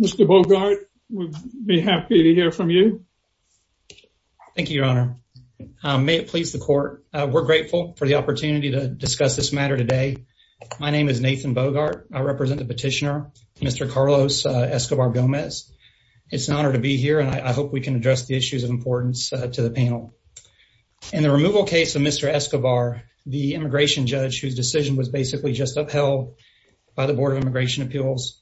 Mr. Bogart, we'd be happy to hear from you. Thank you, Your Honor. May it please the court. We're grateful for the opportunity to discuss this matter today. My name is Nathan Bogart. I represent the petitioner, Mr. Carlos Escobar Gomez. It's an honor to be here and I hope we can address the issues of importance to the panel. In the removal case of Mr. Escobar, the immigration judge whose decision was basically just upheld by the Board of Immigration Appeals,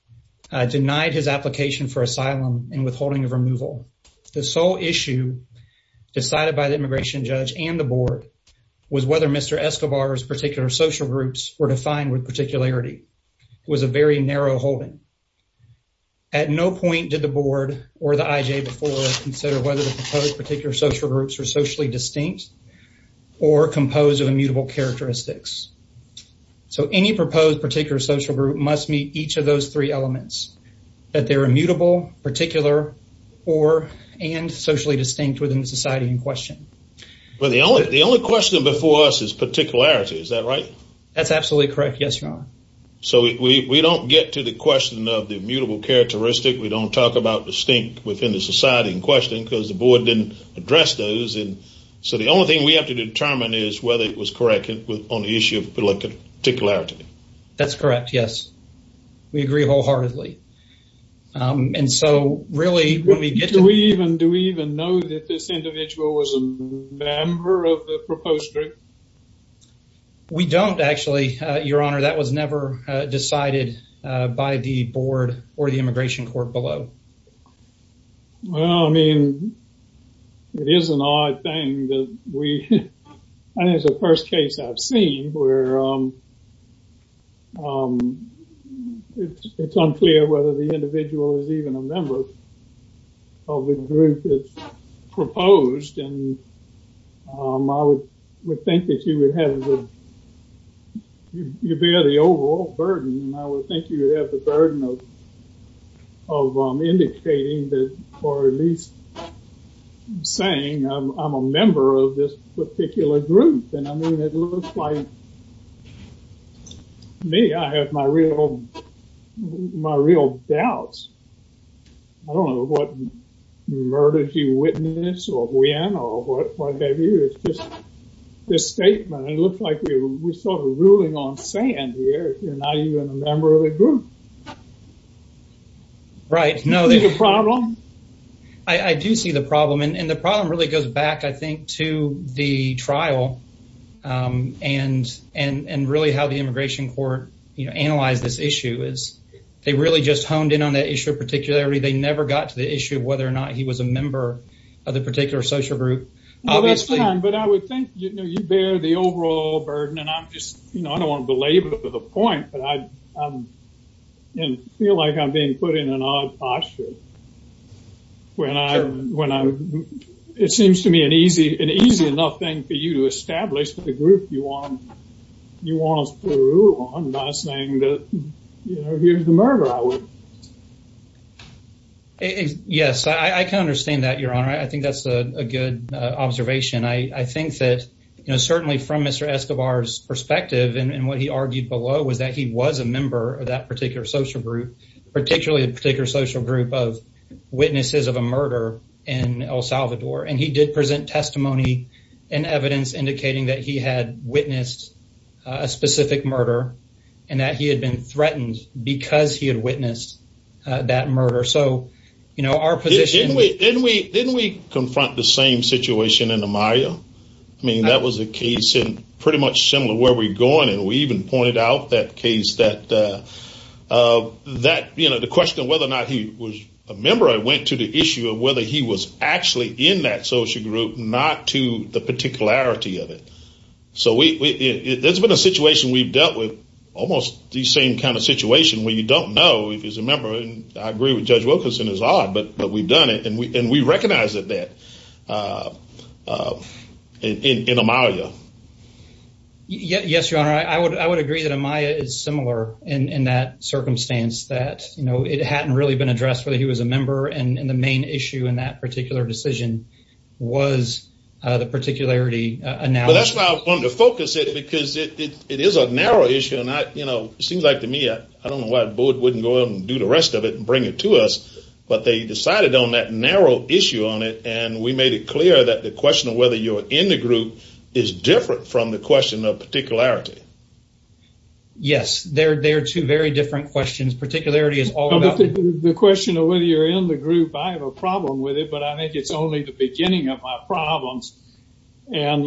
denied his application for asylum and withholding of removal. The sole issue decided by the immigration judge and the board was whether Mr. Escobar's particular social groups were defined with particularity. It was a very narrow holding. At no point did the board or the IJ before consider whether the proposed particular social groups were socially distinct or composed of immutable characteristics. So any proposed particular social group must meet each of those three elements. That they're immutable, particular, or and socially distinct within the society in question. Well the only the only question before us is particularity. Is that right? That's absolutely correct. Yes, Your Honor. So we don't get to the question of the immutable characteristic. We don't talk about distinct within the society in question because the board didn't address those. And so the only thing we have to determine is whether it was correct on the issue of particularity. That's correct, yes. We agree wholeheartedly. And so really when we get to... Do we even know that this individual was a member of the proposed group? We don't actually, Your Honor. That was never decided by the board or the board. Well, I mean it is an odd thing that we... I think it's the first case I've seen where it's unclear whether the individual is even a member of the group that's proposed. And I would think that you would have the... You bear the overall burden. I would think you have the burden of indicating that or at least saying I'm a member of this particular group. And I mean it looks like me. I have my real, my real doubts. I don't know what murders you witnessed or when or what have you. It's just this statement. It looks like we're sort of ruling on sand here. You're not even a member of the group. Right, no. Do you see the problem? I do see the problem. And the problem really goes back I think to the trial and really how the Immigration Court, you know, analyzed this issue is they really just honed in on that issue of particularity. They never got to the issue of whether or not he was a member of the particular social group. Well, that's fine, but I would think you bear the overall burden. And I'm just, you know, I don't want to belabor the point, but I feel like I'm being put in an odd posture when I'm... It seems to me an easy enough thing for you to establish the group you want us to rule on by saying that, you know, here's the murder I witnessed. Yes, I can understand that, Your observation. I think that, you know, certainly from Mr. Escobar's perspective and what he argued below was that he was a member of that particular social group, particularly a particular social group of witnesses of a murder in El Salvador. And he did present testimony and evidence indicating that he had witnessed a specific murder and that he had been threatened because he had witnessed that murder. So, you know, our position... I mean, that was a case in pretty much similar where we're going. And we even pointed out that case that, you know, the question of whether or not he was a member went to the issue of whether he was actually in that social group, not to the particularity of it. So, it's been a situation we've dealt with, almost the same kind of situation where you don't know if he's a member. And I agree with Judge Wilkinson, it's odd, but we've done it. And we recognize that that in Amalia. Yes, Your Honor, I would agree that Amalia is similar in that circumstance that, you know, it hadn't really been addressed whether he was a member. And the main issue in that particular decision was the particularity. Well, that's why I wanted to focus it because it is a narrow issue. And I, you know, it seems like to me, I don't know why the board wouldn't go out and do the rest of it and bring it to us. But they decided on that narrow issue on it. And we made it clear that the question of whether you're in the group is different from the question of particularity. Yes, they're two very different questions. Particularity is all about... The question of whether you're in the group, I have a problem with it, but I think it's only the beginning of my problems. And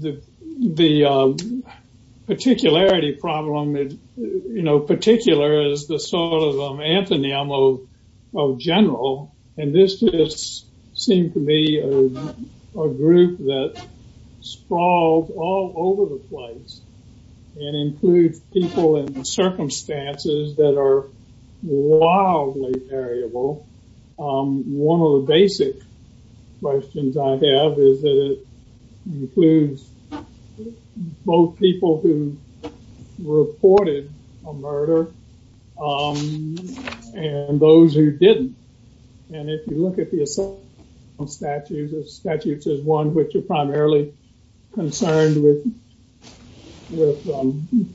the particularity problem, you know, particular is the sort of an antonym of general. And this just seemed to be a group that sprawled all over the place. It includes people in circumstances that are wildly variable. One of the basic questions I have is that it includes both people who reported a murder and those who didn't. And if you look at the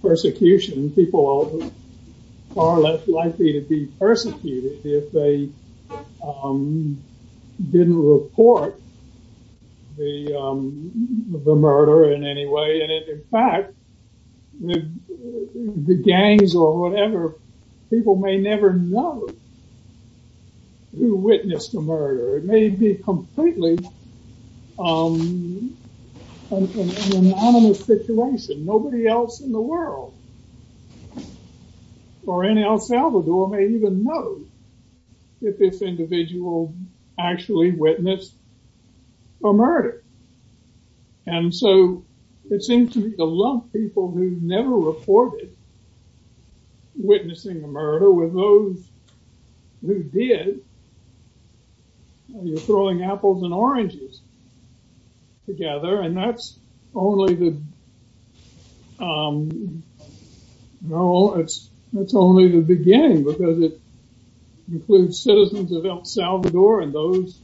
persecution, people are far less likely to be persecuted if they didn't report the murder in any way. And in fact, the gangs or whatever, people may never know who witnessed the murder. It may be completely anonymous situation. Nobody else in the world or in El Salvador may even know if this individual actually witnessed a murder. And so it seems to be a lot of people who never reported witnessing a murder with those who did. You're throwing apples and oranges together, and that's only the beginning because it includes citizens of El Salvador and those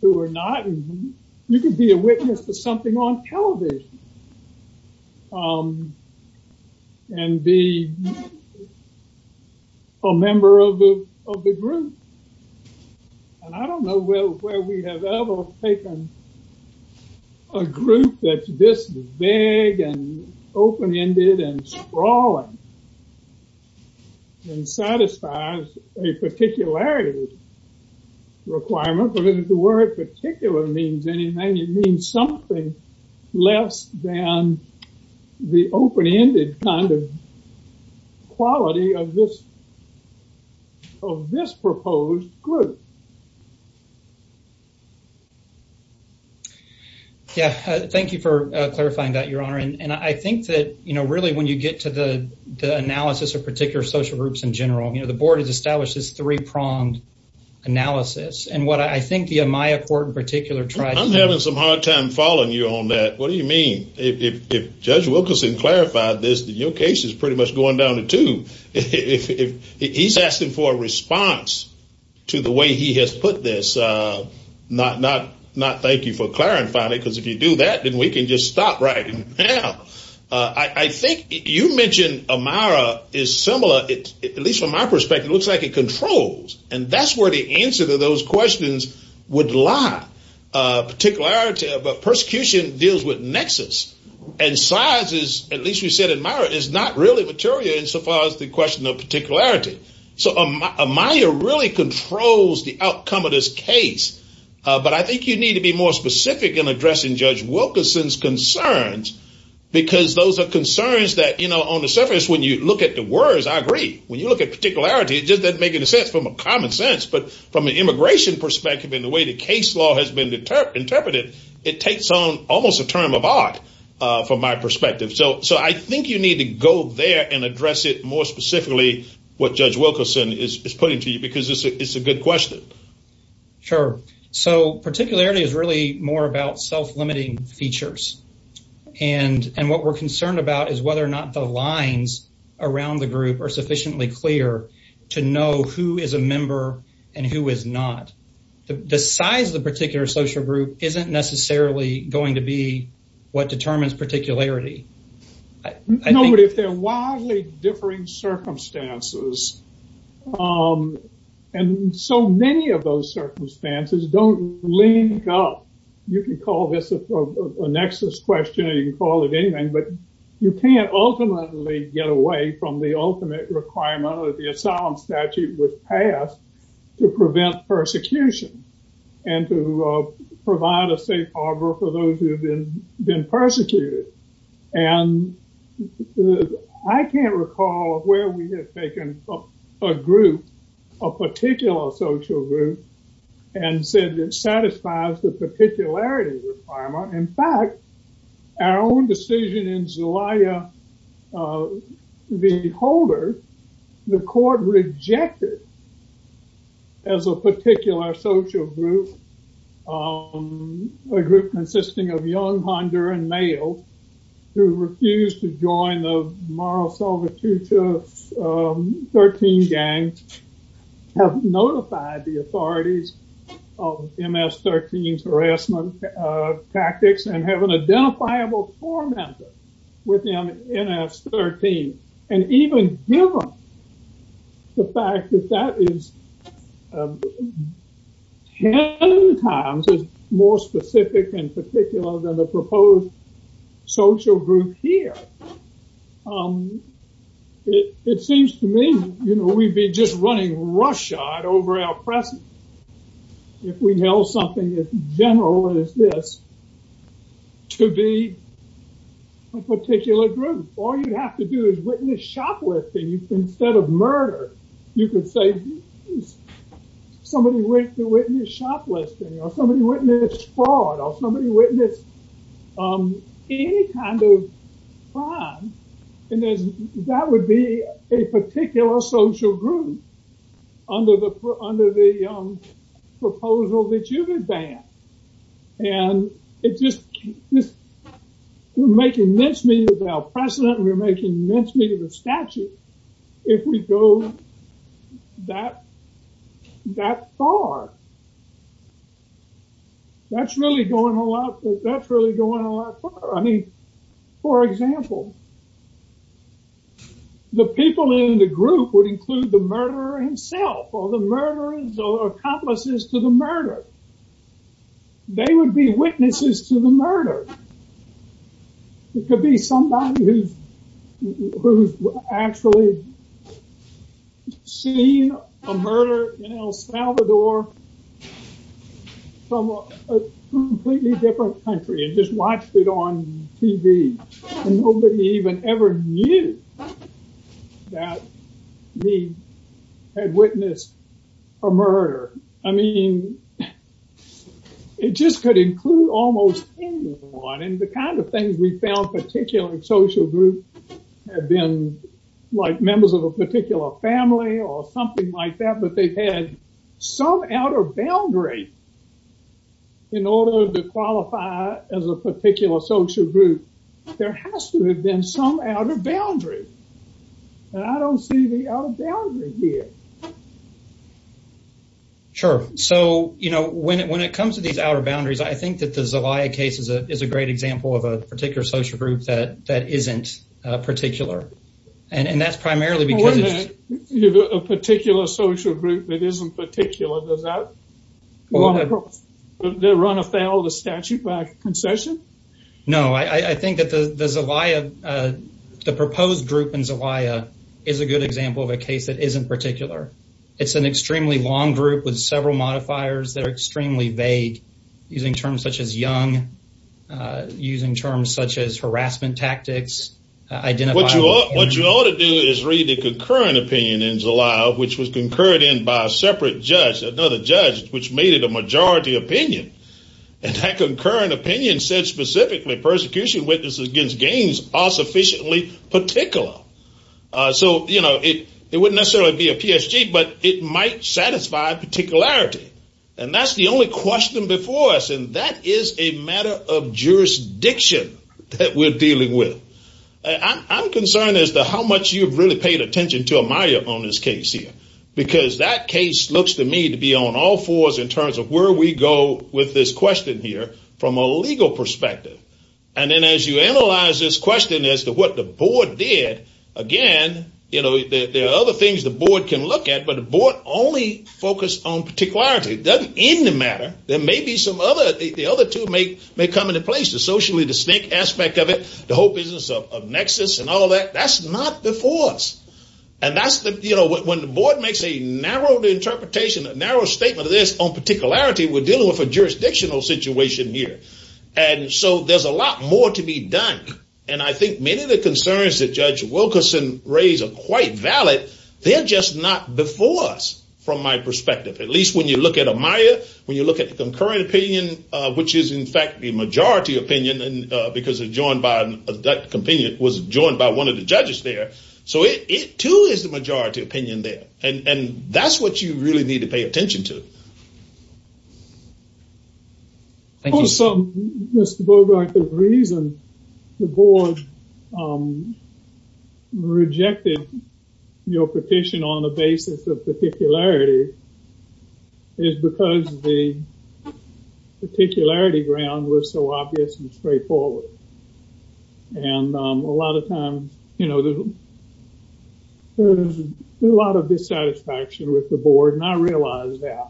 who are not. You could be a witness to something on television and be a member of the group. And I don't know where we have ever taken a group that's this big and open-ended and sprawling and satisfies a particularity requirement. But if the word particular means anything, it means something less than the open-ended kind of quality of this proposed group. Yeah, thank you for clarifying that, Your Honor. And I think that, you know, really when you get to the analysis of particular social groups in general, you know, the board has established this three-pronged analysis. And what I think the Amaya Court in particular tries to do is... I'm having some hard time following you on that. What do you mean? If Judge Wilkerson clarified this, then your case is pretty much going down the tube. He's asking for a response to the way he has put this. Not thank you for clarifying it, because if you do that, then we can just stop right now. I think you mentioned Amaya is similar, at least from my perspective, it looks like it controls. And that's where the answer to those questions would lie. Particularity, but persecution deals with nexus. And size is, at least you said in Amaya, is not really material insofar as the question of particularity. So Amaya really controls the outcome of this case. But I think you need to be more specific in addressing Judge Wilkerson's concerns, because those are concerns that, you know, on the surface, when you look at the words, I agree. When you look at particularity, it just doesn't make any sense from a common sense. But from an immigration perspective, in the way the case law has been interpreted, it takes on almost a term of art, from my perspective. So I think you need to go there and address it more specifically, what Judge Wilkerson is putting to you, because it's a good question. Sure. So particularity is really more about self-limiting features. And what we're concerned about is whether or not the lines around the group are sufficiently clear to know who is a member and who is not. The size of the particular social group isn't necessarily going to be what determines particularity. No, but if they're widely differing circumstances, and so many of those circumstances don't link up, you can call this a nexus question, you can call it anything, but you can't ultimately get away from the ultimate requirement that the asylum statute was passed to prevent persecution, and to provide a safe harbor for those who have been persecuted. And I can't recall where we have taken a group, a particular social group, and said it satisfies the particularity requirement. In fact, our own decision in Zelaya Beholder, the court rejected as a particular social group, a group consisting of young Honduran males who refused to join the Mara Salvatrucha 13 gangs, have notified the authorities of MS-13's harassment tactics and have an identifiable tormentor within MS-13. And even given the fact that that is 10 times more specific and particular than the proposed social group here, it seems to me, you know, we'd be just running roughshod over our presence if we held something as general as this to be a particular group. All you'd have to do is witness shoplifting instead of murder. You could say somebody went to witness shoplifting, or somebody witnessed fraud, or somebody witnessed any kind of crime, and that would be a particular social group under the proposal that you've advanced. And it just, we're making immensely of our precedent, we're making immensely of the statute, if we go that, that far. That's really going a lot, that's really going a lot. I mean, for example, the people in the group would include the murderer himself or the murderers or accomplices to the murder. I mean, I've actually seen a murder in El Salvador from a completely different country and just watched it on TV, and nobody even ever knew that we had witnessed a murder. I mean, it just could include almost anyone, and the kind of things we found particularly in social groups have been like members of a particular family or something like that, but they've had some outer boundary in order to qualify as a particular social group. There has to have been some outer boundary, and I don't see the outer boundary here. Sure. So, you know, when it comes to these outer boundaries, I think that the Zelaya case is a particular social group that isn't particular, and that's primarily because it's... Well, wait a minute. You have a particular social group that isn't particular. Does that run afoul of the statute by concession? No, I think that the Zelaya, the proposed group in Zelaya is a good example of a case that isn't particular. It's an extremely long group with several modifiers that are extremely vague, using terms such as young, using terms such as harassment tactics. What you ought to do is read the concurrent opinion in Zelaya, which was concurred in by a separate judge, another judge, which made it a majority opinion, and that concurrent opinion said specifically persecution witnesses against gangs are sufficiently particular. So, you know, it wouldn't necessarily be a PSG, but it might satisfy particularity, and that's the only question before us, and that is a matter of jurisdiction that we're dealing with. I'm concerned as to how much you've really paid attention to Amaya on this case here, because that case looks to me to be on all fours in terms of where we go with this question here from a legal perspective. And then as you analyze this question as to what the board did, again, you know, there are other things the board can look at, but the board only focused on particularity. It doesn't end the the other two may come into place, the socially distinct aspect of it, the whole business of nexus and all that. That's not before us, and that's the, you know, when the board makes a narrow interpretation, a narrow statement of this on particularity, we're dealing with a jurisdictional situation here, and so there's a lot more to be done, and I think many of the concerns that Judge Wilkerson raised are quite valid. They're just not before us from my perspective, at least when you look at Amaya, when you look at the concurrent opinion, which is in fact the majority opinion, and because it was joined by one of the judges there, so it too is the majority opinion there, and that's what you really need to pay attention to. Also, Mr. Bogart, the reason the board rejected your petition on the basis of particularity is because the particularity ground was so obvious and straightforward, and a lot of times, you know, there's a lot of dissatisfaction with the board, and I realize that,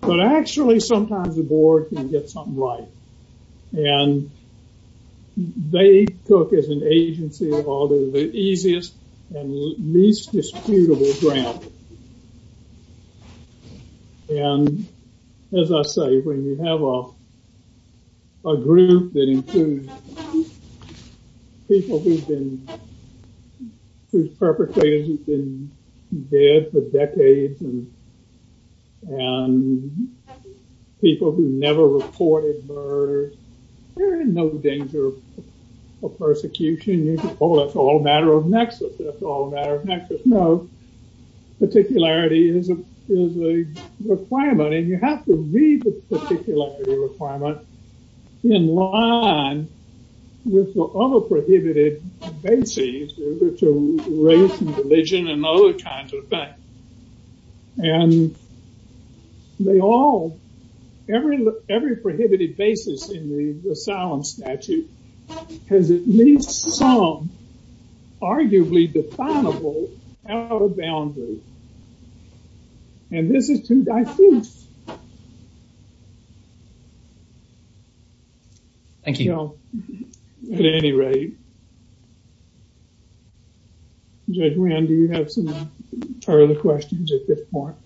but actually sometimes the board can get something right, and they took as an agency all the easiest and least disputable ground, and as I say, when you have a group that includes people who've been whose perpetrators have been dead for decades, and people who never reported murder, they're in no danger of persecution. You could call it all a matter of nexus. That's all a matter of nexus. No, particularity is a requirement, and you have to read the particularity requirement in line with the other prohibited bases, which are race and religion and other kinds of things, and they all, every prohibited basis in the asylum statute has at least some arguably definable out of boundary, and this is too diffuse. Thank you. At any rate, Judge Rand, do you have some further questions at this point?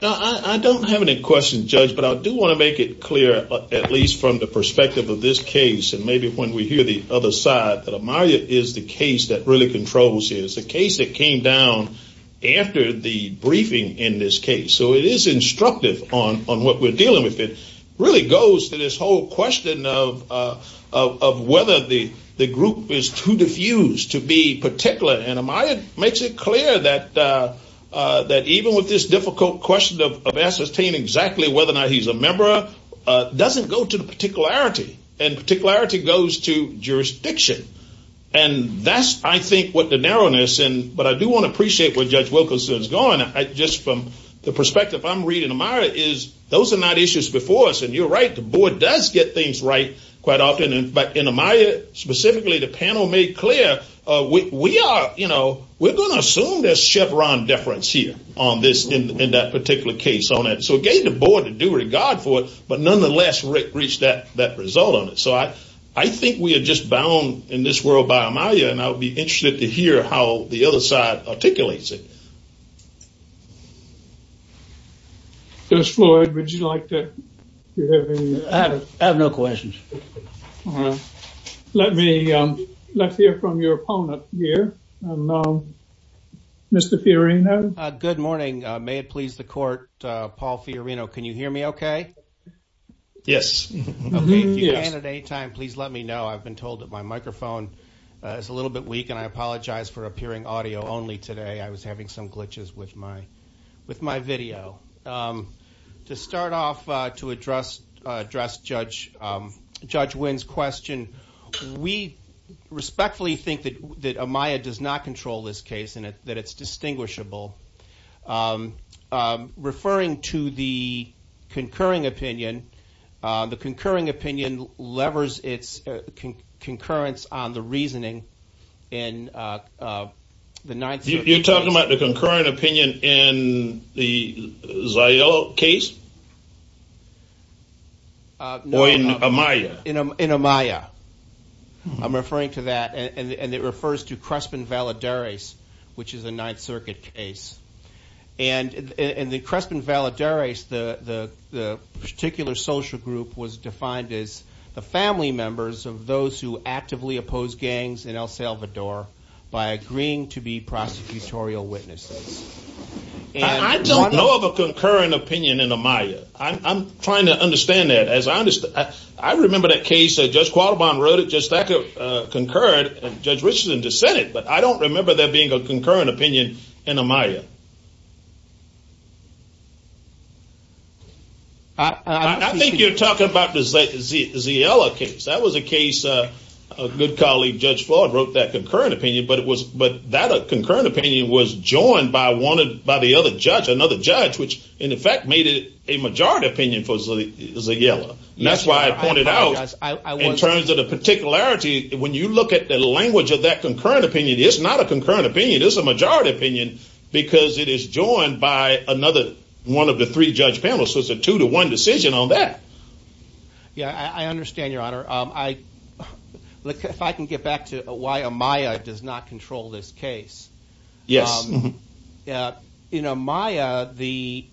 No, I don't have any questions, Judge, but I do want to make it clear, at least from the perspective of this case, and maybe when we hear the other side, that Amaria is the case that really controls here. It's a case that came down after the briefing in this case, so it is instructive on what we're dealing with. It is too diffused to be particular, and Amaria makes it clear that even with this difficult question of ascertaining exactly whether or not he's a member, it doesn't go to the particularity, and particularity goes to jurisdiction, and that's, I think, what the narrowness, but I do want to appreciate where Judge Wilkerson is going, just from the perspective I'm reading Amaria is those are not issues before us, and you're right. The board does get things right quite often, but in Amaria, specifically, the panel made clear we are, you know, we're going to assume there's Chevron deference here on this in that particular case on it, so it gave the board a due regard for it, but nonetheless reached that result on it, so I think we are just bound in this world by Amaria, and I'll be interested to hear how the other side articulates it. Judge Floyd, would you like to have any? I have no questions. Let me, let's hear from your opponent here, Mr. Fiorino. Good morning. May it please the court, Paul Fiorino, can you hear me okay? Yes. If you can at any time, please let me know. I've been told that my microphone is a little bit weak, and I apologize for appearing audio only today. I was having some glitches with my video. To start off, to address Judge Wynn's question, we respectfully think that Amaria does not control this case, and that it's distinguishable. Referring to the concurring opinion, the concurring opinion levers its concurrence on the reasoning in the Ninth Circuit. You're talking about the concurring opinion in the Zio case? Or in Amaria? In Amaria. I'm referring to that, and it refers to Crespin Valadares, which is a Ninth Circuit case, and in the Crespin Valadares, the particular social group was defined as the family members of those who actively oppose gangs in El Salvador by agreeing to be prosecutorial witnesses. I don't know of a concurring opinion in Amaria. I'm trying to understand that. As I understand, I remember that case that Judge Qualibon wrote, it just concurred, and Judge Richland just said it, but I don't remember there being a concurring opinion in Amaria. I think you're talking about the Zio case. That was a case a good colleague, Judge Floyd, wrote that concurring opinion, but that concurring opinion was joined by another judge, which in effect made it a majority opinion for Zio. That's why I pointed out, in terms of the particularity, when you look at the language of that concurring opinion, it's not a concurring opinion. It's a majority opinion because it is joined by another one of the three judge panels, so it's a two-to-one decision on that. Yeah, I understand, Your Honor. If I can get back to why Amaria does not control this case. Yes. In Amaria, the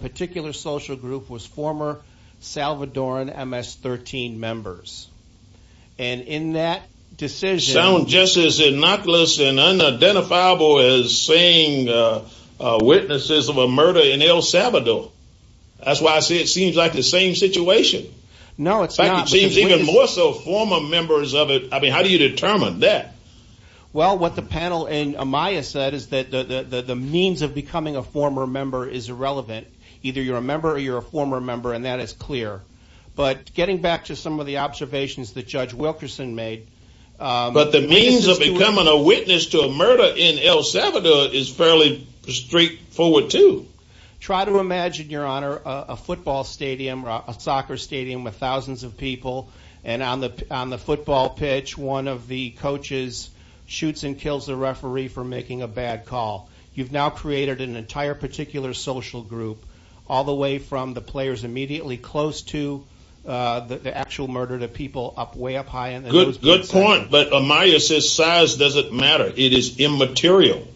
particular social group was former Salvadoran MS-13 members, and in that decision... Sound just as innocuous and unidentifiable as saying witnesses of a murder in El Salvador. That's why I say it seems like the same situation. No, it's not. In fact, it seems even more so former members of it. I mean, how do you determine that? Well, what the panel in Amaria said is that the means of becoming a former member is irrelevant. Either you're a member or you're a former member, and that is clear. But getting back to some of the observations that Judge Wilkerson made... But the means of becoming a witness to a murder in El Salvador is fairly straightforward, too. Try to imagine, Your Honor, a football stadium or a soccer stadium with thousands of people, and on the football pitch, one of the coaches shoots and kills the referee for making a bad call. You've now created an entire particular social group, all the way from the players immediately close to the actual murder to people way up high in the nose. Good point. But Amaria says size doesn't matter. It is immaterial.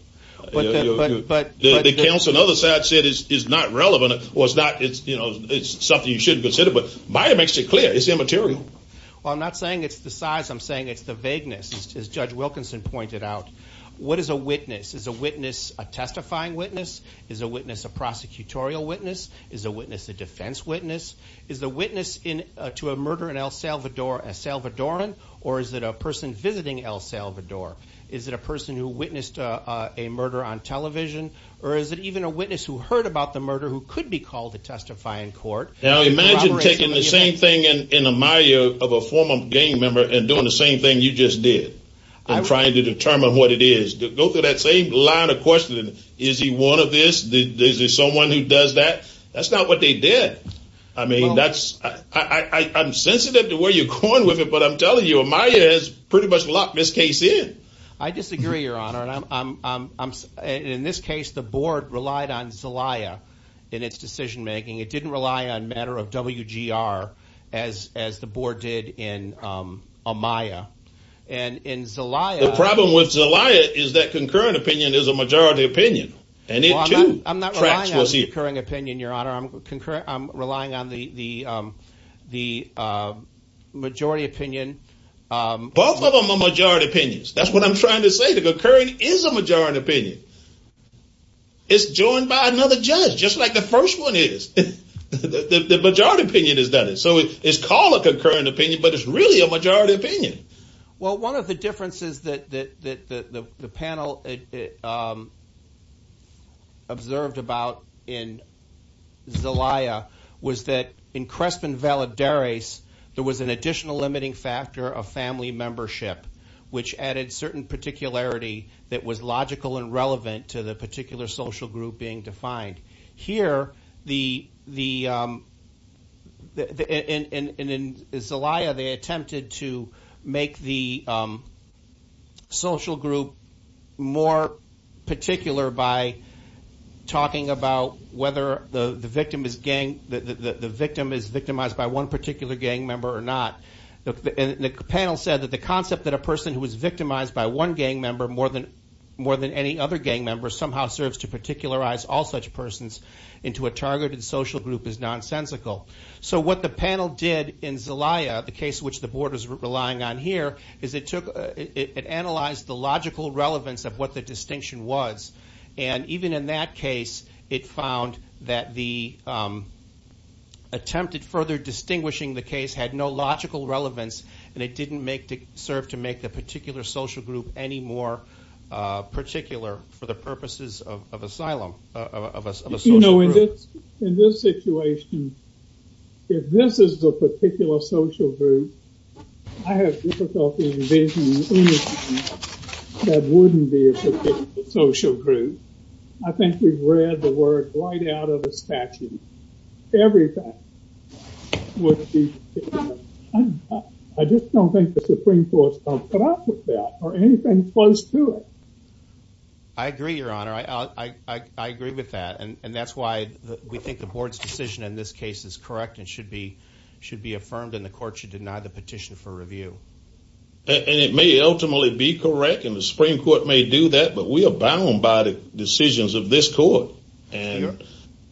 But the counsel on the other side said it's not relevant, or it's something you shouldn't consider. But Amaria makes it clear. It's immaterial. Well, I'm not saying it's the size. I'm saying it's the vagueness, as Judge Wilkerson pointed out. What is a witness? Is a testifying witness? Is a witness a prosecutorial witness? Is a witness a defense witness? Is the witness to a murder in El Salvador a Salvadoran? Or is it a person visiting El Salvador? Is it a person who witnessed a murder on television? Or is it even a witness who heard about the murder who could be called to testify in court? Now, imagine taking the same thing in Amaria of a former gang member and doing the same thing you just did, and trying to determine what it is. Go through that same line of questioning. Is he one of this? Is there someone who does that? That's not what they did. I mean, I'm sensitive to where you're going with it, but I'm telling you, Amaria has pretty much locked this case in. I disagree, Your Honor. And in this case, the board relied on Zelaya in its decision making. It didn't rely on matter of WGR as the board did in Amaria. And in Zelaya- The problem with Zelaya is that concurrent opinion is a majority opinion. And it too- I'm not relying on the concurrent opinion, Your Honor. I'm relying on the majority opinion- Both of them are majority opinions. That's what I'm trying to say. The concurrent is a majority opinion. It's joined by another judge, just like the first one is. The majority opinion is that. So it's called a concurrent opinion, but it's really a majority opinion. Well, one of the differences that the panel observed about in Zelaya was that in Crespin Valadares, there was an additional limiting factor of family membership, which added certain particularity that was logical and relevant to the case. And in Zelaya, they attempted to make the social group more particular by talking about whether the victim is victimized by one particular gang member or not. And the panel said that the concept that a person who is victimized by one gang member more than any other gang member serves to particularize all such persons into a targeted social group is nonsensical. So what the panel did in Zelaya, the case which the Board is relying on here, is it analyzed the logical relevance of what the distinction was. And even in that case, it found that the attempted further distinguishing the case had no logical relevance, and it didn't serve to make the particular social group any more particular for the purposes of asylum, of a social group. You know, in this situation, if this is the particular social group, I have difficulty envisioning anything that wouldn't be a social group. I think we've read the word right out of the statute. Everything would be, I just don't think the Supreme Court's going to put up with that or anything close to it. I agree, Your Honor. I agree with that. And that's why we think the Board's decision in this case is correct and should be affirmed, and the Court should deny the petition for review. And it may ultimately be correct, and the Supreme Court may do that, but we are bound by the decisions of this Court. And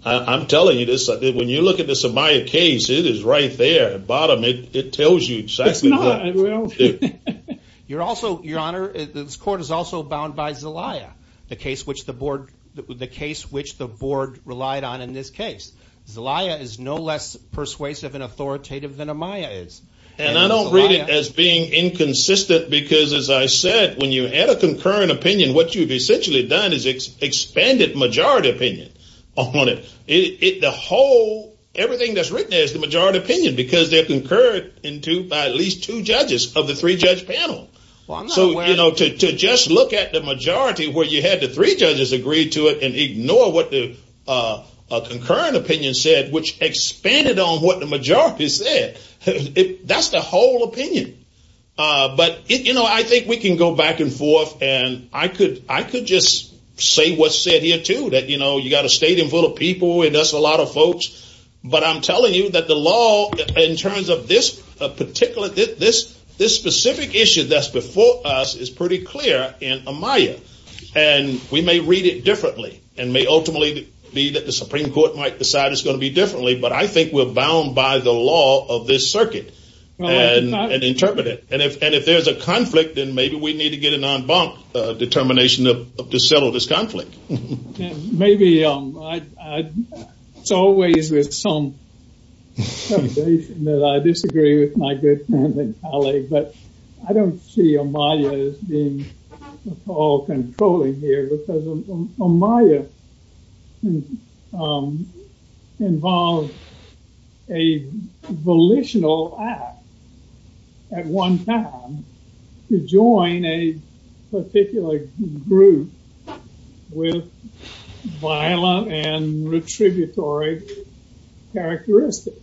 I'm telling you this, when you look at the Zelaya case, it is right there at the bottom. It tells you exactly what to do. Your Honor, this Court is also bound by Zelaya, the case which the Board relied on in this case. Zelaya is no less persuasive and authoritative than Amaya is. And I don't read it as being inconsistent because, as I said, when you had a concurrent opinion, what you've essentially done is expanded majority opinion on it. Everything that's written is the panel. So to just look at the majority where you had the three judges agree to it and ignore what a concurrent opinion said, which expanded on what the majority said, that's the whole opinion. But I think we can go back and forth, and I could just say what's said here, too, that you got a stadium full of people, and that's a lot of folks. But I'm telling you that the law, in terms of this specific issue that's before us, is pretty clear in Amaya. And we may read it differently, and may ultimately be that the Supreme Court might decide it's going to be differently, but I think we're bound by the law of this circuit and interpret it. And if there's a conflict, then maybe we need to get an en banc determination to settle this conflict. Maybe, it's always with some that I disagree with my good friend and colleague, but I don't see Amaya as being at all controlling here because Amaya involved a volitional act at one time to join a particular group with violent and retributory characteristics.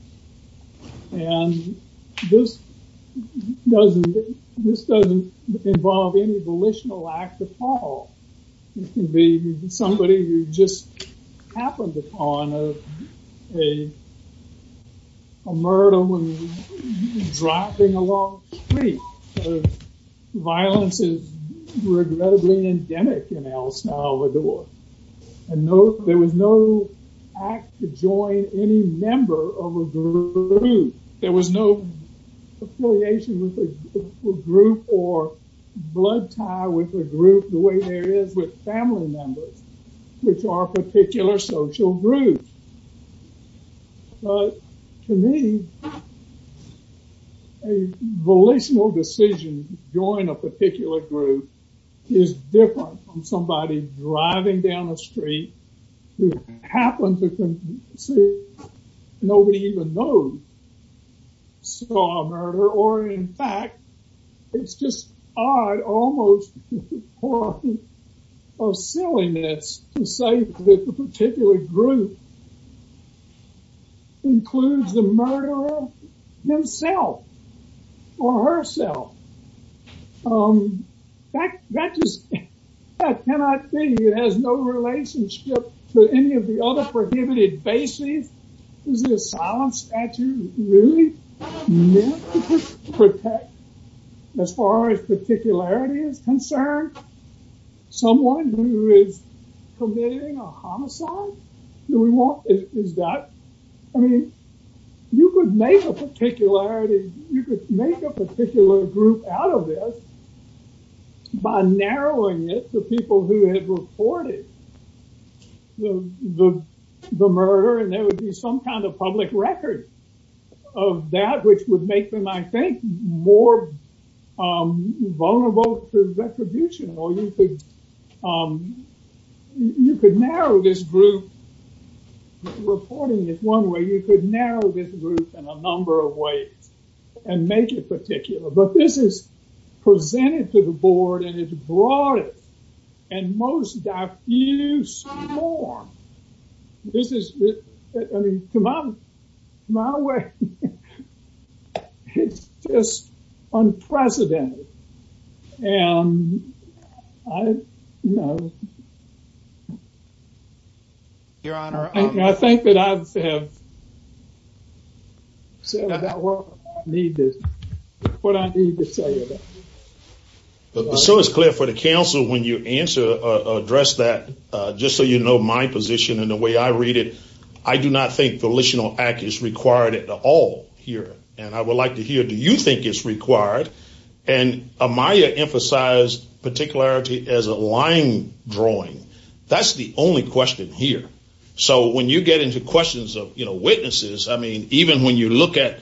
And this doesn't involve any volitional act at all. It can be somebody who just happened upon a murder when driving along the street. Violence is regrettably endemic in El Salvador. And there was no act to join any member of a group. There was no affiliation with a group or blood tie with a group the way there is with family members, which are particular social groups. But to me, a volitional decision to join a particular group is different from somebody driving down the street who happened to see nobody even know saw a murder, or in fact, it's just odd, almost a silliness to say that the particular group includes the murderer himself or herself. That just cannot be. It has no relationship to any of the other prohibited bases. Is the asylum statute really meant to protect, as far as particularity is concerned, someone who is committing a homicide? I mean, you could make a particularity, you could make a particular group out of this by narrowing it to people who had reported the murder, and there would be some kind of public record of that, which would make them, I think, more vulnerable to retribution, or you could narrow this group, reporting it one way, you could narrow this group in a number of ways, and make it particular. But this is presented to the board, and it's broadened, and most have used more. This is, I mean, to my way, it's just unprecedented, and I know. Your Honor, I think that I have said what I need to say. But so it's clear for the counsel when you address that, just so you know my position and the way I read it, I do not think volitional act is required at all here, and I would like to hear, do you think it's required? And Amaya emphasized particularity as a line drawing. That's the only question here. So when you get into questions of witnesses, I mean, even when you look at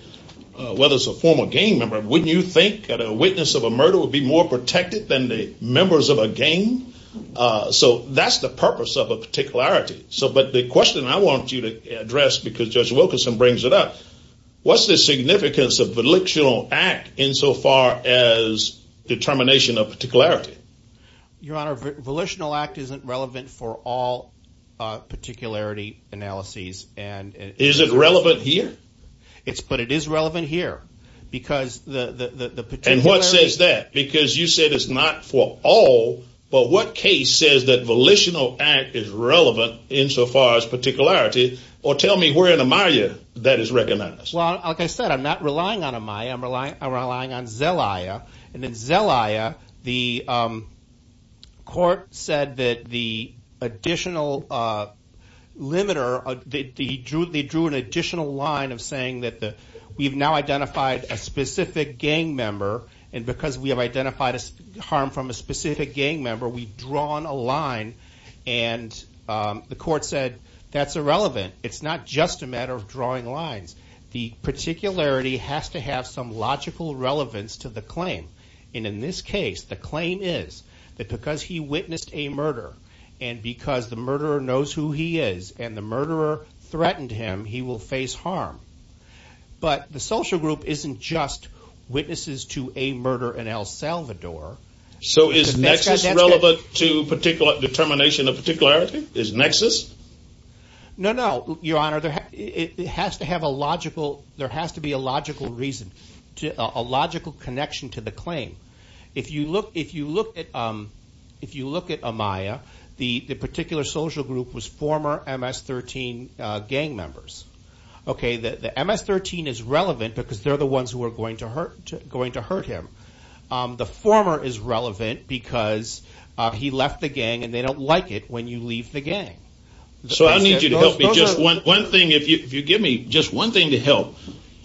whether it's a former gang member, wouldn't you think that a witness of a murder would be more protected than the members of a gang? So that's the purpose of a particularity. But the question I want you to address, because Judge Wilkinson brings it up, what's the significance of volitional act insofar as determination of particularity? Your Honor, volitional act isn't relevant for all here. And what says that? Because you said it's not for all, but what case says that volitional act is relevant insofar as particularity, or tell me where in Amaya that is recognized? Well, like I said, I'm not relying on Amaya. I'm relying on Zelaya. And in Zelaya, the identified a specific gang member, and because we have identified harm from a specific gang member, we've drawn a line. And the court said that's irrelevant. It's not just a matter of drawing lines. The particularity has to have some logical relevance to the claim. And in this case, the claim is that because he witnessed a murder, and because the murderer knows who he is, and the murderer threatened him, he will face harm. But the social group isn't just witnesses to a murder in El Salvador. So is nexus relevant to particular determination of particularity? Is nexus? No, no, Your Honor, it has to have a logical, there has to be a logical reason, a logical connection to the claim. If you look at Amaya, the particular social group was former MS-13 gang members. Okay, the MS-13 is relevant because they're the ones who are going to hurt him. The former is relevant because he left the gang and they don't like it when you leave the gang. So I need you to help me just one thing, if you give me just one thing to help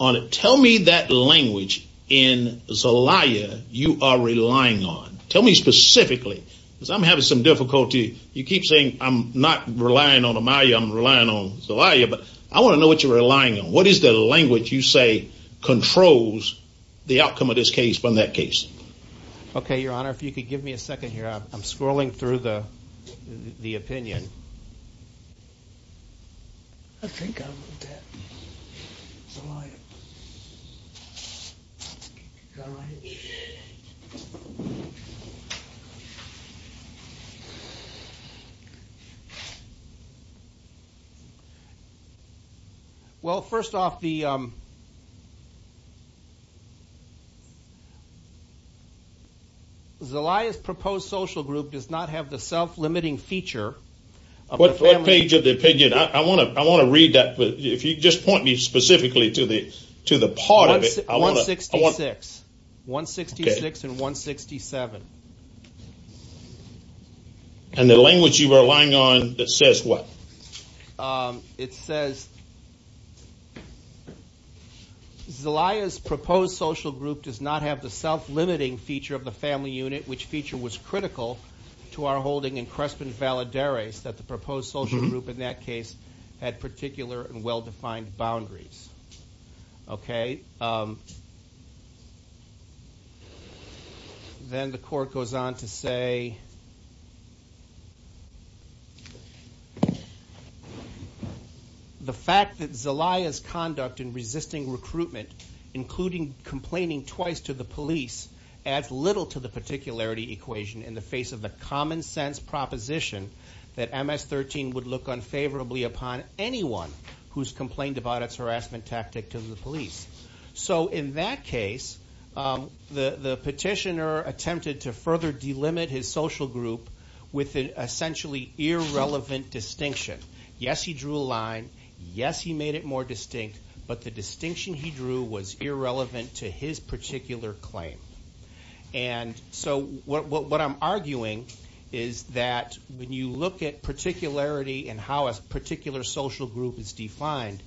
on it. Tell me that language in Zelaya you are relying on. Tell me specifically, because I'm having some difficulty. You keep saying I'm not relying on Amaya, I'm relying on Zelaya, but I want to know what you're relying on. What is the language you say controls the outcome of this case from that case? Okay, Your Honor, if you could give me a second here. Well, first off, Zelaya's proposed social group does not have the self-limiting feature. What page of the opinion? I want to read that, but if you just point me specifically to the part of it. 166. 166 and 167. And the language you are relying on that says what? It says Zelaya's proposed social group does not have the self-limiting feature of the family unit, which feature was critical to our holding in Crespin Valadares that the proposed social group in that case had particular and well-defined boundaries. Okay. Then the court goes on to say the fact that Zelaya's conduct in resisting recruitment, including complaining twice to the police, adds little to the particularity equation in the face of the common sense proposition that MS-13 would look unfavorably upon anyone who's complained about its harassment tactic to the police. So in that case, the petitioner attempted to further delimit his social group with an essentially irrelevant distinction. Yes, he drew a line. Yes, he made it more distinct, but the distinction he drew was irrelevant to his particular claim. And so what I'm arguing is that when you look at particularity and how a particular social group is defined,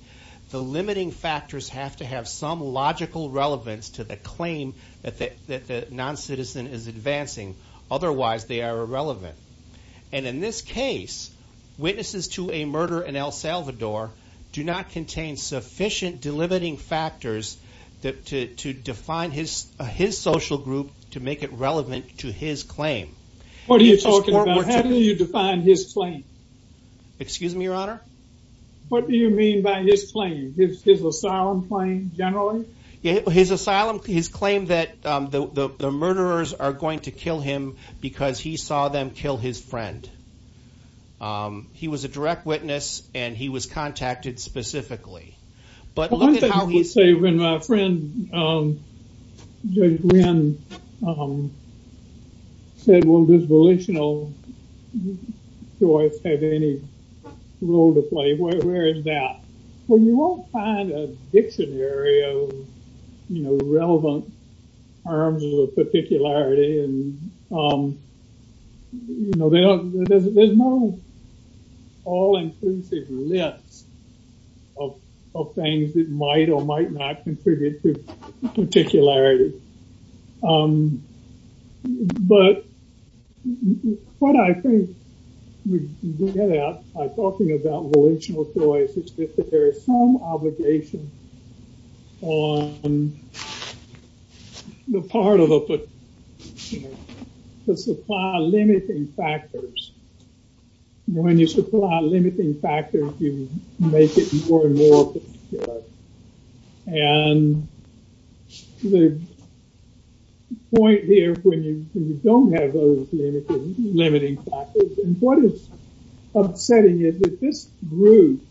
the limiting factors have to have some logical relevance to the claim that the noncitizen is advancing. Otherwise, they are irrelevant. And in this case, witnesses to a murder in El Salvador do not contain sufficient delimiting factors to define his social group to make it relevant to his claim. What are you talking about? How do you define his claim? Excuse me, your honor? What do you mean by his claim? His asylum claim generally? His asylum, his claim that the murderers are going to kill him because he saw them kill his friend. He was a direct witness and he was contacted specifically. But one thing I would say when my friend Judge Wynn said, well, does volitional choice have any role to play? Where is that? Well, you won't find a dictionary of, you know, relevant terms of particularity and, you know, there's no all-inclusive list of things that might or might not contribute to particularity. But what I think we get at by talking about volitional choice is that there is some obligation on the part of a particular group to supply limiting factors. When you supply limiting factors, you make it more and more particular. And the point here when you don't have those limiting factors, and what is upsetting is that this group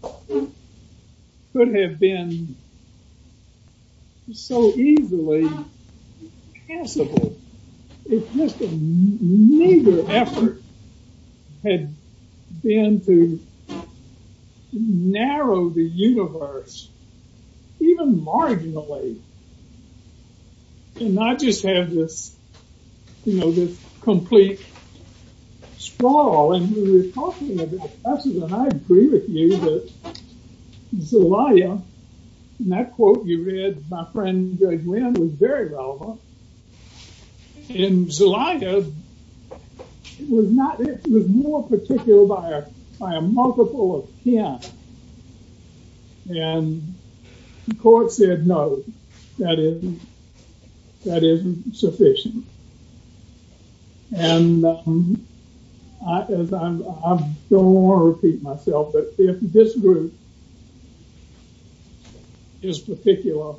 could have been so easily passable if just a meager effort had been to narrow the universe, even marginally, and not just have this, you know, this complete sprawl. And we were talking about this, and I agree with you that Zelaya, and that quote you read, my friend Judge Wynn was very relevant. In Zelaya, it was not, it was more particular by a multiple of 10. And the court said no. That isn't sufficient. And I don't want to repeat myself, but if this group is particular,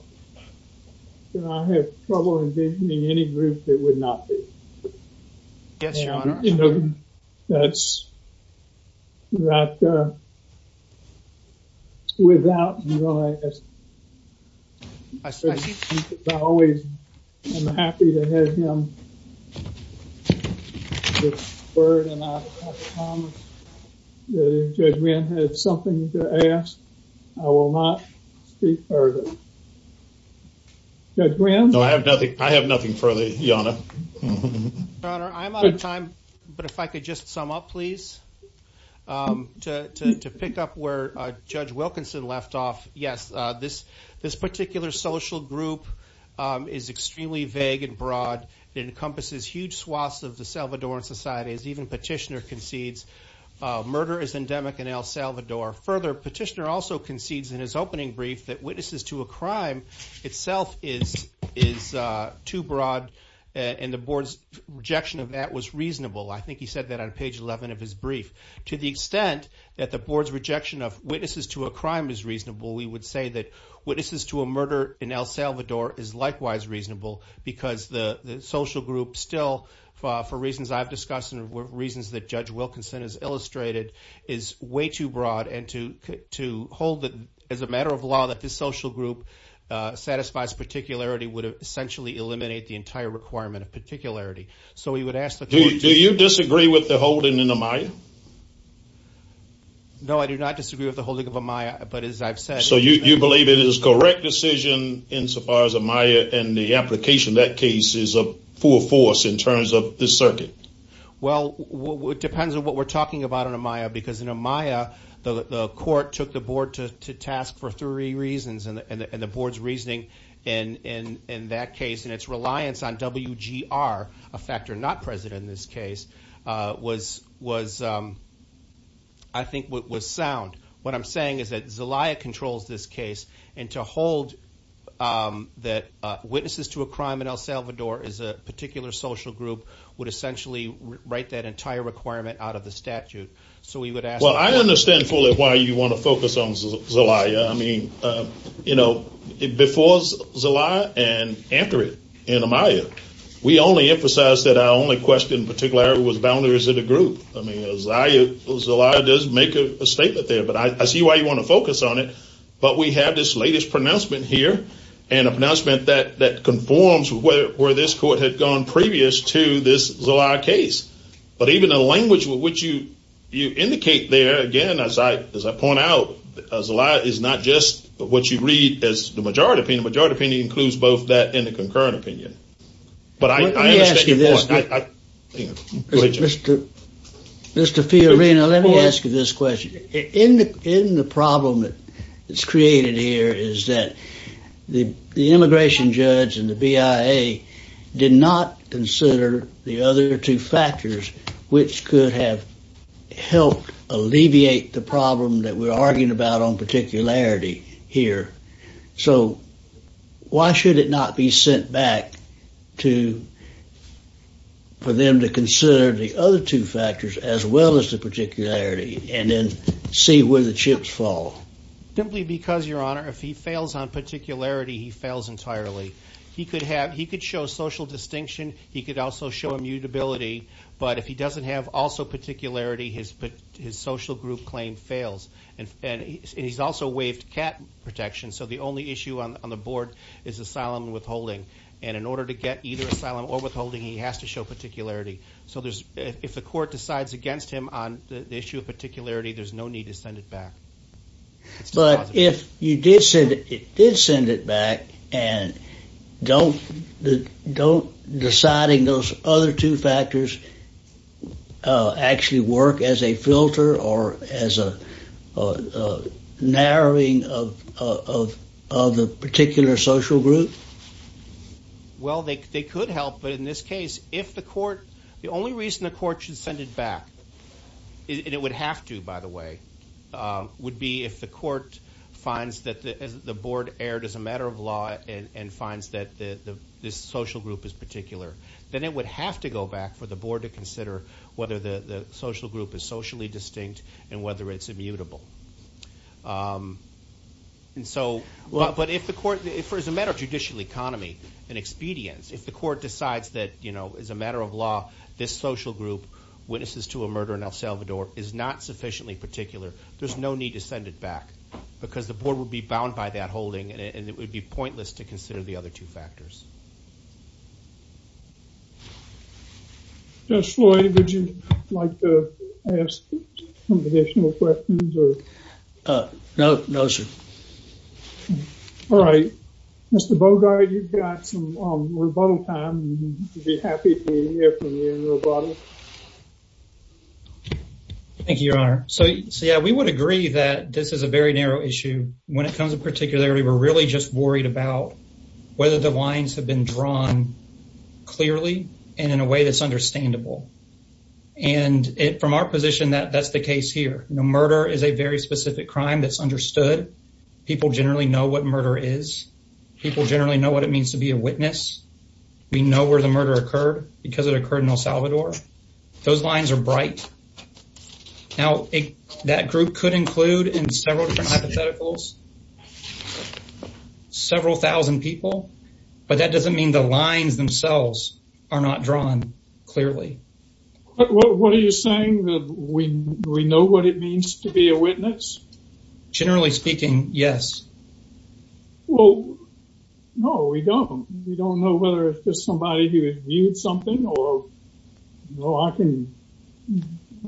then I have trouble envisioning any group that would not be. Yes, your honor. That's right. Without, I always am happy to have him. Judge Wynn had something to ask. I will not speak further. Judge Wynn? No, I have nothing. I have nothing further, your honor. Your honor, I'm out of time, but if I could just sum up, please. To pick up where Judge Wilkinson left off, yes, this particular social group is extremely vague and broad. It encompasses huge swaths of the Salvadoran society, as even Petitioner concedes. Murder is endemic in El Salvador. Further, Petitioner also concedes in his opening brief that witnesses to a crime itself is too broad, and the board's rejection of that was reasonable. I think he said that on page 11 of his brief. To the extent that the board's rejection of witnesses to a crime is reasonable, we would say that witnesses to a murder in El Salvador is likewise reasonable, because the social group still, for reasons I've discussed and for reasons that Judge Wilkinson has illustrated, is way too broad. To hold it as a matter of law that this social group satisfies particularity would essentially eliminate the entire requirement of particularity. Do you disagree with the holding in Amaya? No, I do not disagree with the holding of Amaya, but as I've said- So you believe it is a correct decision insofar as Amaya and the application of that case is a full force in terms of this circuit? Well, it depends on what we're talking about in Amaya, because in Amaya, the court took the board to task for three reasons, and the board's reasoning in that case and its reliance on WGR, a factor not present in this case, I think was sound. What I'm saying is that Zelaya controls this case, and to hold that witnesses to a crime in El Salvador is a particular social group would essentially write that entire requirement out of the statute. So we would ask- Well, I understand fully why you want to focus on Zelaya. I mean, before Zelaya and after it, in Amaya, we only emphasized that our only question in particularity was boundaries of the group. I mean, Zelaya does make a statement there, but I see why you want to focus on it. But we have this latest pronouncement here, and a pronouncement that conforms where this court had gone previous to this Zelaya case. But even the language with which you indicate there, again, as I point out, Zelaya is not just what you read as the majority opinion. The majority opinion includes both that and the concurrent opinion. But I understand your point. Mr. Fiorina, let me ask you this question. In the problem that's created here is that the immigration judge and the BIA did not consider the other two factors which could have helped alleviate the problem that we're arguing about on particularity here. So why should it not be sent back to- for them to consider the other two factors, as well as the particularity, and then see where the chips fall? Simply because, Your Honor, if he fails on particularity, he fails entirely. He could have- he could show social distinction. He could also show immutability. But if he doesn't have also particularity, his social group claim fails. And he's also waived CAT protection. So the only issue on the board is asylum and withholding. And in order to get either asylum or withholding, he has to show particularity. So there's- if the court decides against him on the issue of particularity, there's no need to send it back. But if you did send- it did send it back, and don't deciding those other two factors actually work as a filter or as a narrowing of the particular social group? Well, they could help. But in this case, if the court- the only reason the court should send it back- and it would have to, by the way- would be if the court finds that the board erred as a matter of law and finds that this social group is particular. Then it would have to go back for the board to consider whether the social group is socially distinct and whether it's immutable. And so- but if the court- as a matter of judicial economy and expedience, if the court decides that, as a matter of law, this social group witnesses to a murder in El Salvador is not sufficiently particular, there's no need to send it back. Because the board would be bound by that holding, and it would be pointless to consider the other two factors. Judge Floyd, would you like to ask some additional questions? No, no, sir. All right. Mr. Bogart, you've got some rebuttal time. I'd be happy to hear from you in rebuttal. Thank you, Your Honor. So yeah, we would agree that this is a very narrow issue. When it comes to particularity, we're really just worried about whether the lines have been drawn clearly and in a way that's understandable. And from our position, that's the case here. Murder is a very specific crime that's understood. People generally know what murder is. People generally know what it means to be a witness. We know where the murder occurred because it occurred in El Salvador. Those lines are bright. Now, that group could include in several different hypotheticals several thousand people, but that doesn't mean the lines themselves are not drawn clearly. What are you saying? That we know what it means to be a witness? Generally speaking, yes. Well, no, we don't. We don't know whether it's just somebody who viewed something or, you know, I can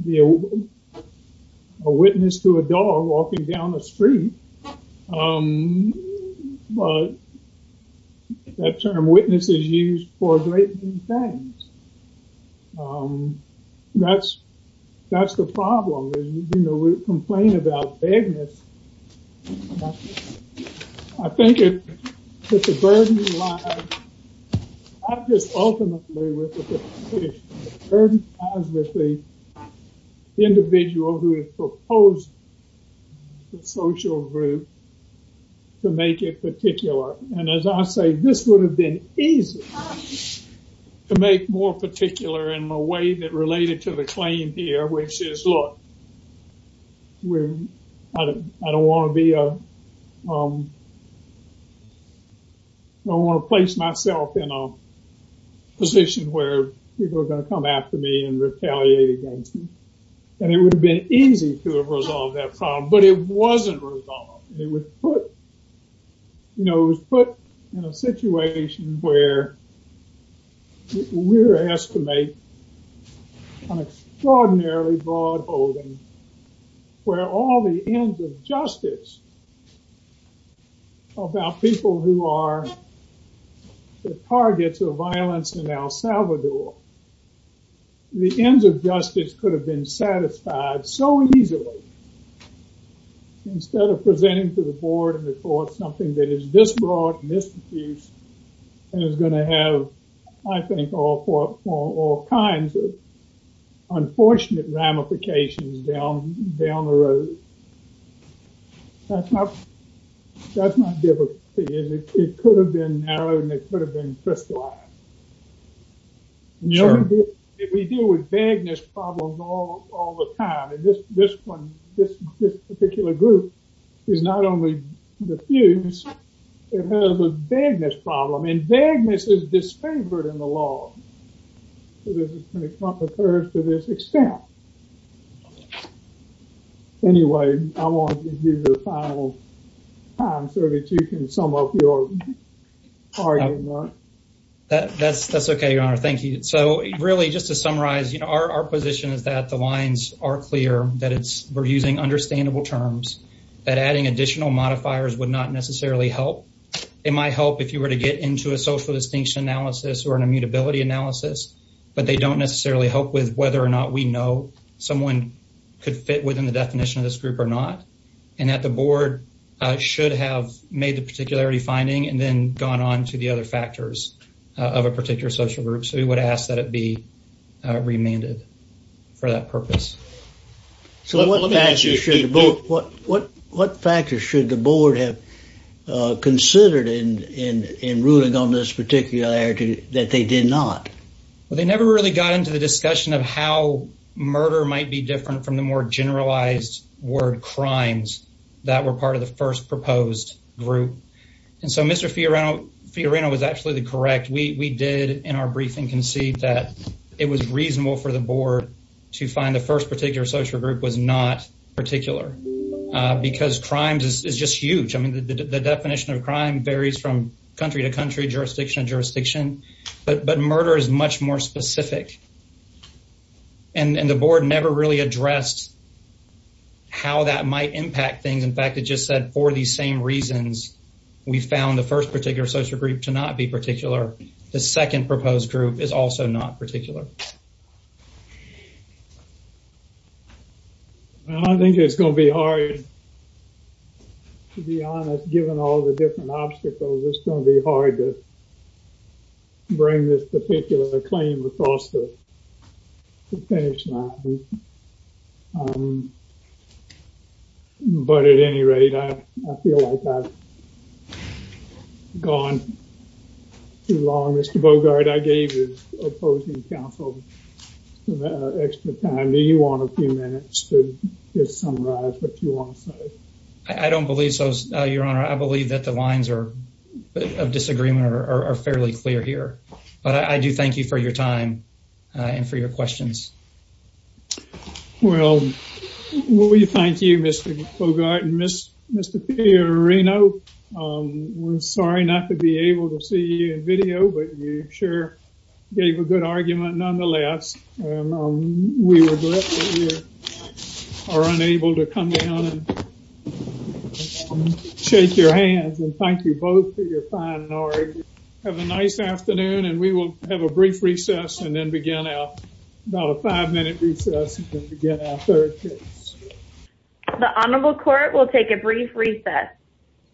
be a witness to a dog walking down the street. Um, but that term witness is used for a great many things. Um, that's, that's the problem is, you know, we complain about vagueness. I think it's a burden. I'm just ultimately with the individual who has proposed the social group to make it particular. And as I say, this would have been easy to make more particular in a way that related to the want to place myself in a position where people are going to come after me and retaliate against me. And it would have been easy to resolve that problem, but it wasn't resolved. It was put, you know, put in a situation where we're asked to make an extraordinarily broad holding where all the ends of justice about people who are the targets of violence in El Salvador, the ends of justice could have been satisfied so easily. Instead of presenting to the board and the court something that is this broad and this diffuse and is going to have, I think, all kinds of unfortunate ramifications down the road. That's not, that's not difficult. It could have been narrowed and it could have been crystallized. If we deal with vagueness problems all the time, and this one, this particular group is not only diffuse, it has a vagueness problem and vagueness is disfavored in the law. So, this is what occurs to this extent. Anyway, I want to give you the final time so that you can sum up your argument. That's okay, your honor. Thank you. So, really, just to summarize, you know, our position is that the lines are clear, that it's, we're using understandable terms, that adding additional modifiers would not necessarily help. It might help if you were to get into a social distinction analysis or an immutability analysis, but they don't necessarily help with whether or not we know someone could fit within the definition of this group or not. And that the board should have made the particularity finding and then gone on to the other factors of a particular social group. We would ask that it be remanded for that purpose. So, what factors should the board have considered in ruling on this particularity that they did not? Well, they never really got into the discussion of how murder might be different from the more generalized word crimes that were part of the first proposed group. And so, Mr. Fiorano was absolutely correct. We did, in our briefing, concede that it was reasonable for the board to find the first particular social group was not particular. Because crimes is just huge. I mean, the definition of crime varies from country to country, jurisdiction to jurisdiction, but murder is much more specific. And the board never really addressed how that might impact things. In fact, it just said, for these same reasons, we found the first particular social group to not be particular. The second proposed group is also not particular. Well, I think it's going to be hard, to be honest, given all the different obstacles, it's going to be hard to bring this particular claim across the finish line. But at any rate, I feel like I've gone too long. Mr. Bogart, I gave you opposing counsel extra time. Do you want a few minutes to just summarize what you want to say? I don't believe so, Your Honor. I believe that the lines of disagreement are fairly clear here. But I do thank you for your time and for your questions. Well, we thank you, Mr. Bogart and Mr. Fiorino. We're sorry not to be able to see you in video, but you sure gave a good argument nonetheless. We regret that we are unable to come down and thank you both for your time. Have a nice afternoon, and we will have a brief recess and then begin our five-minute recess and begin our third case. The Honorable Court will take a brief recess.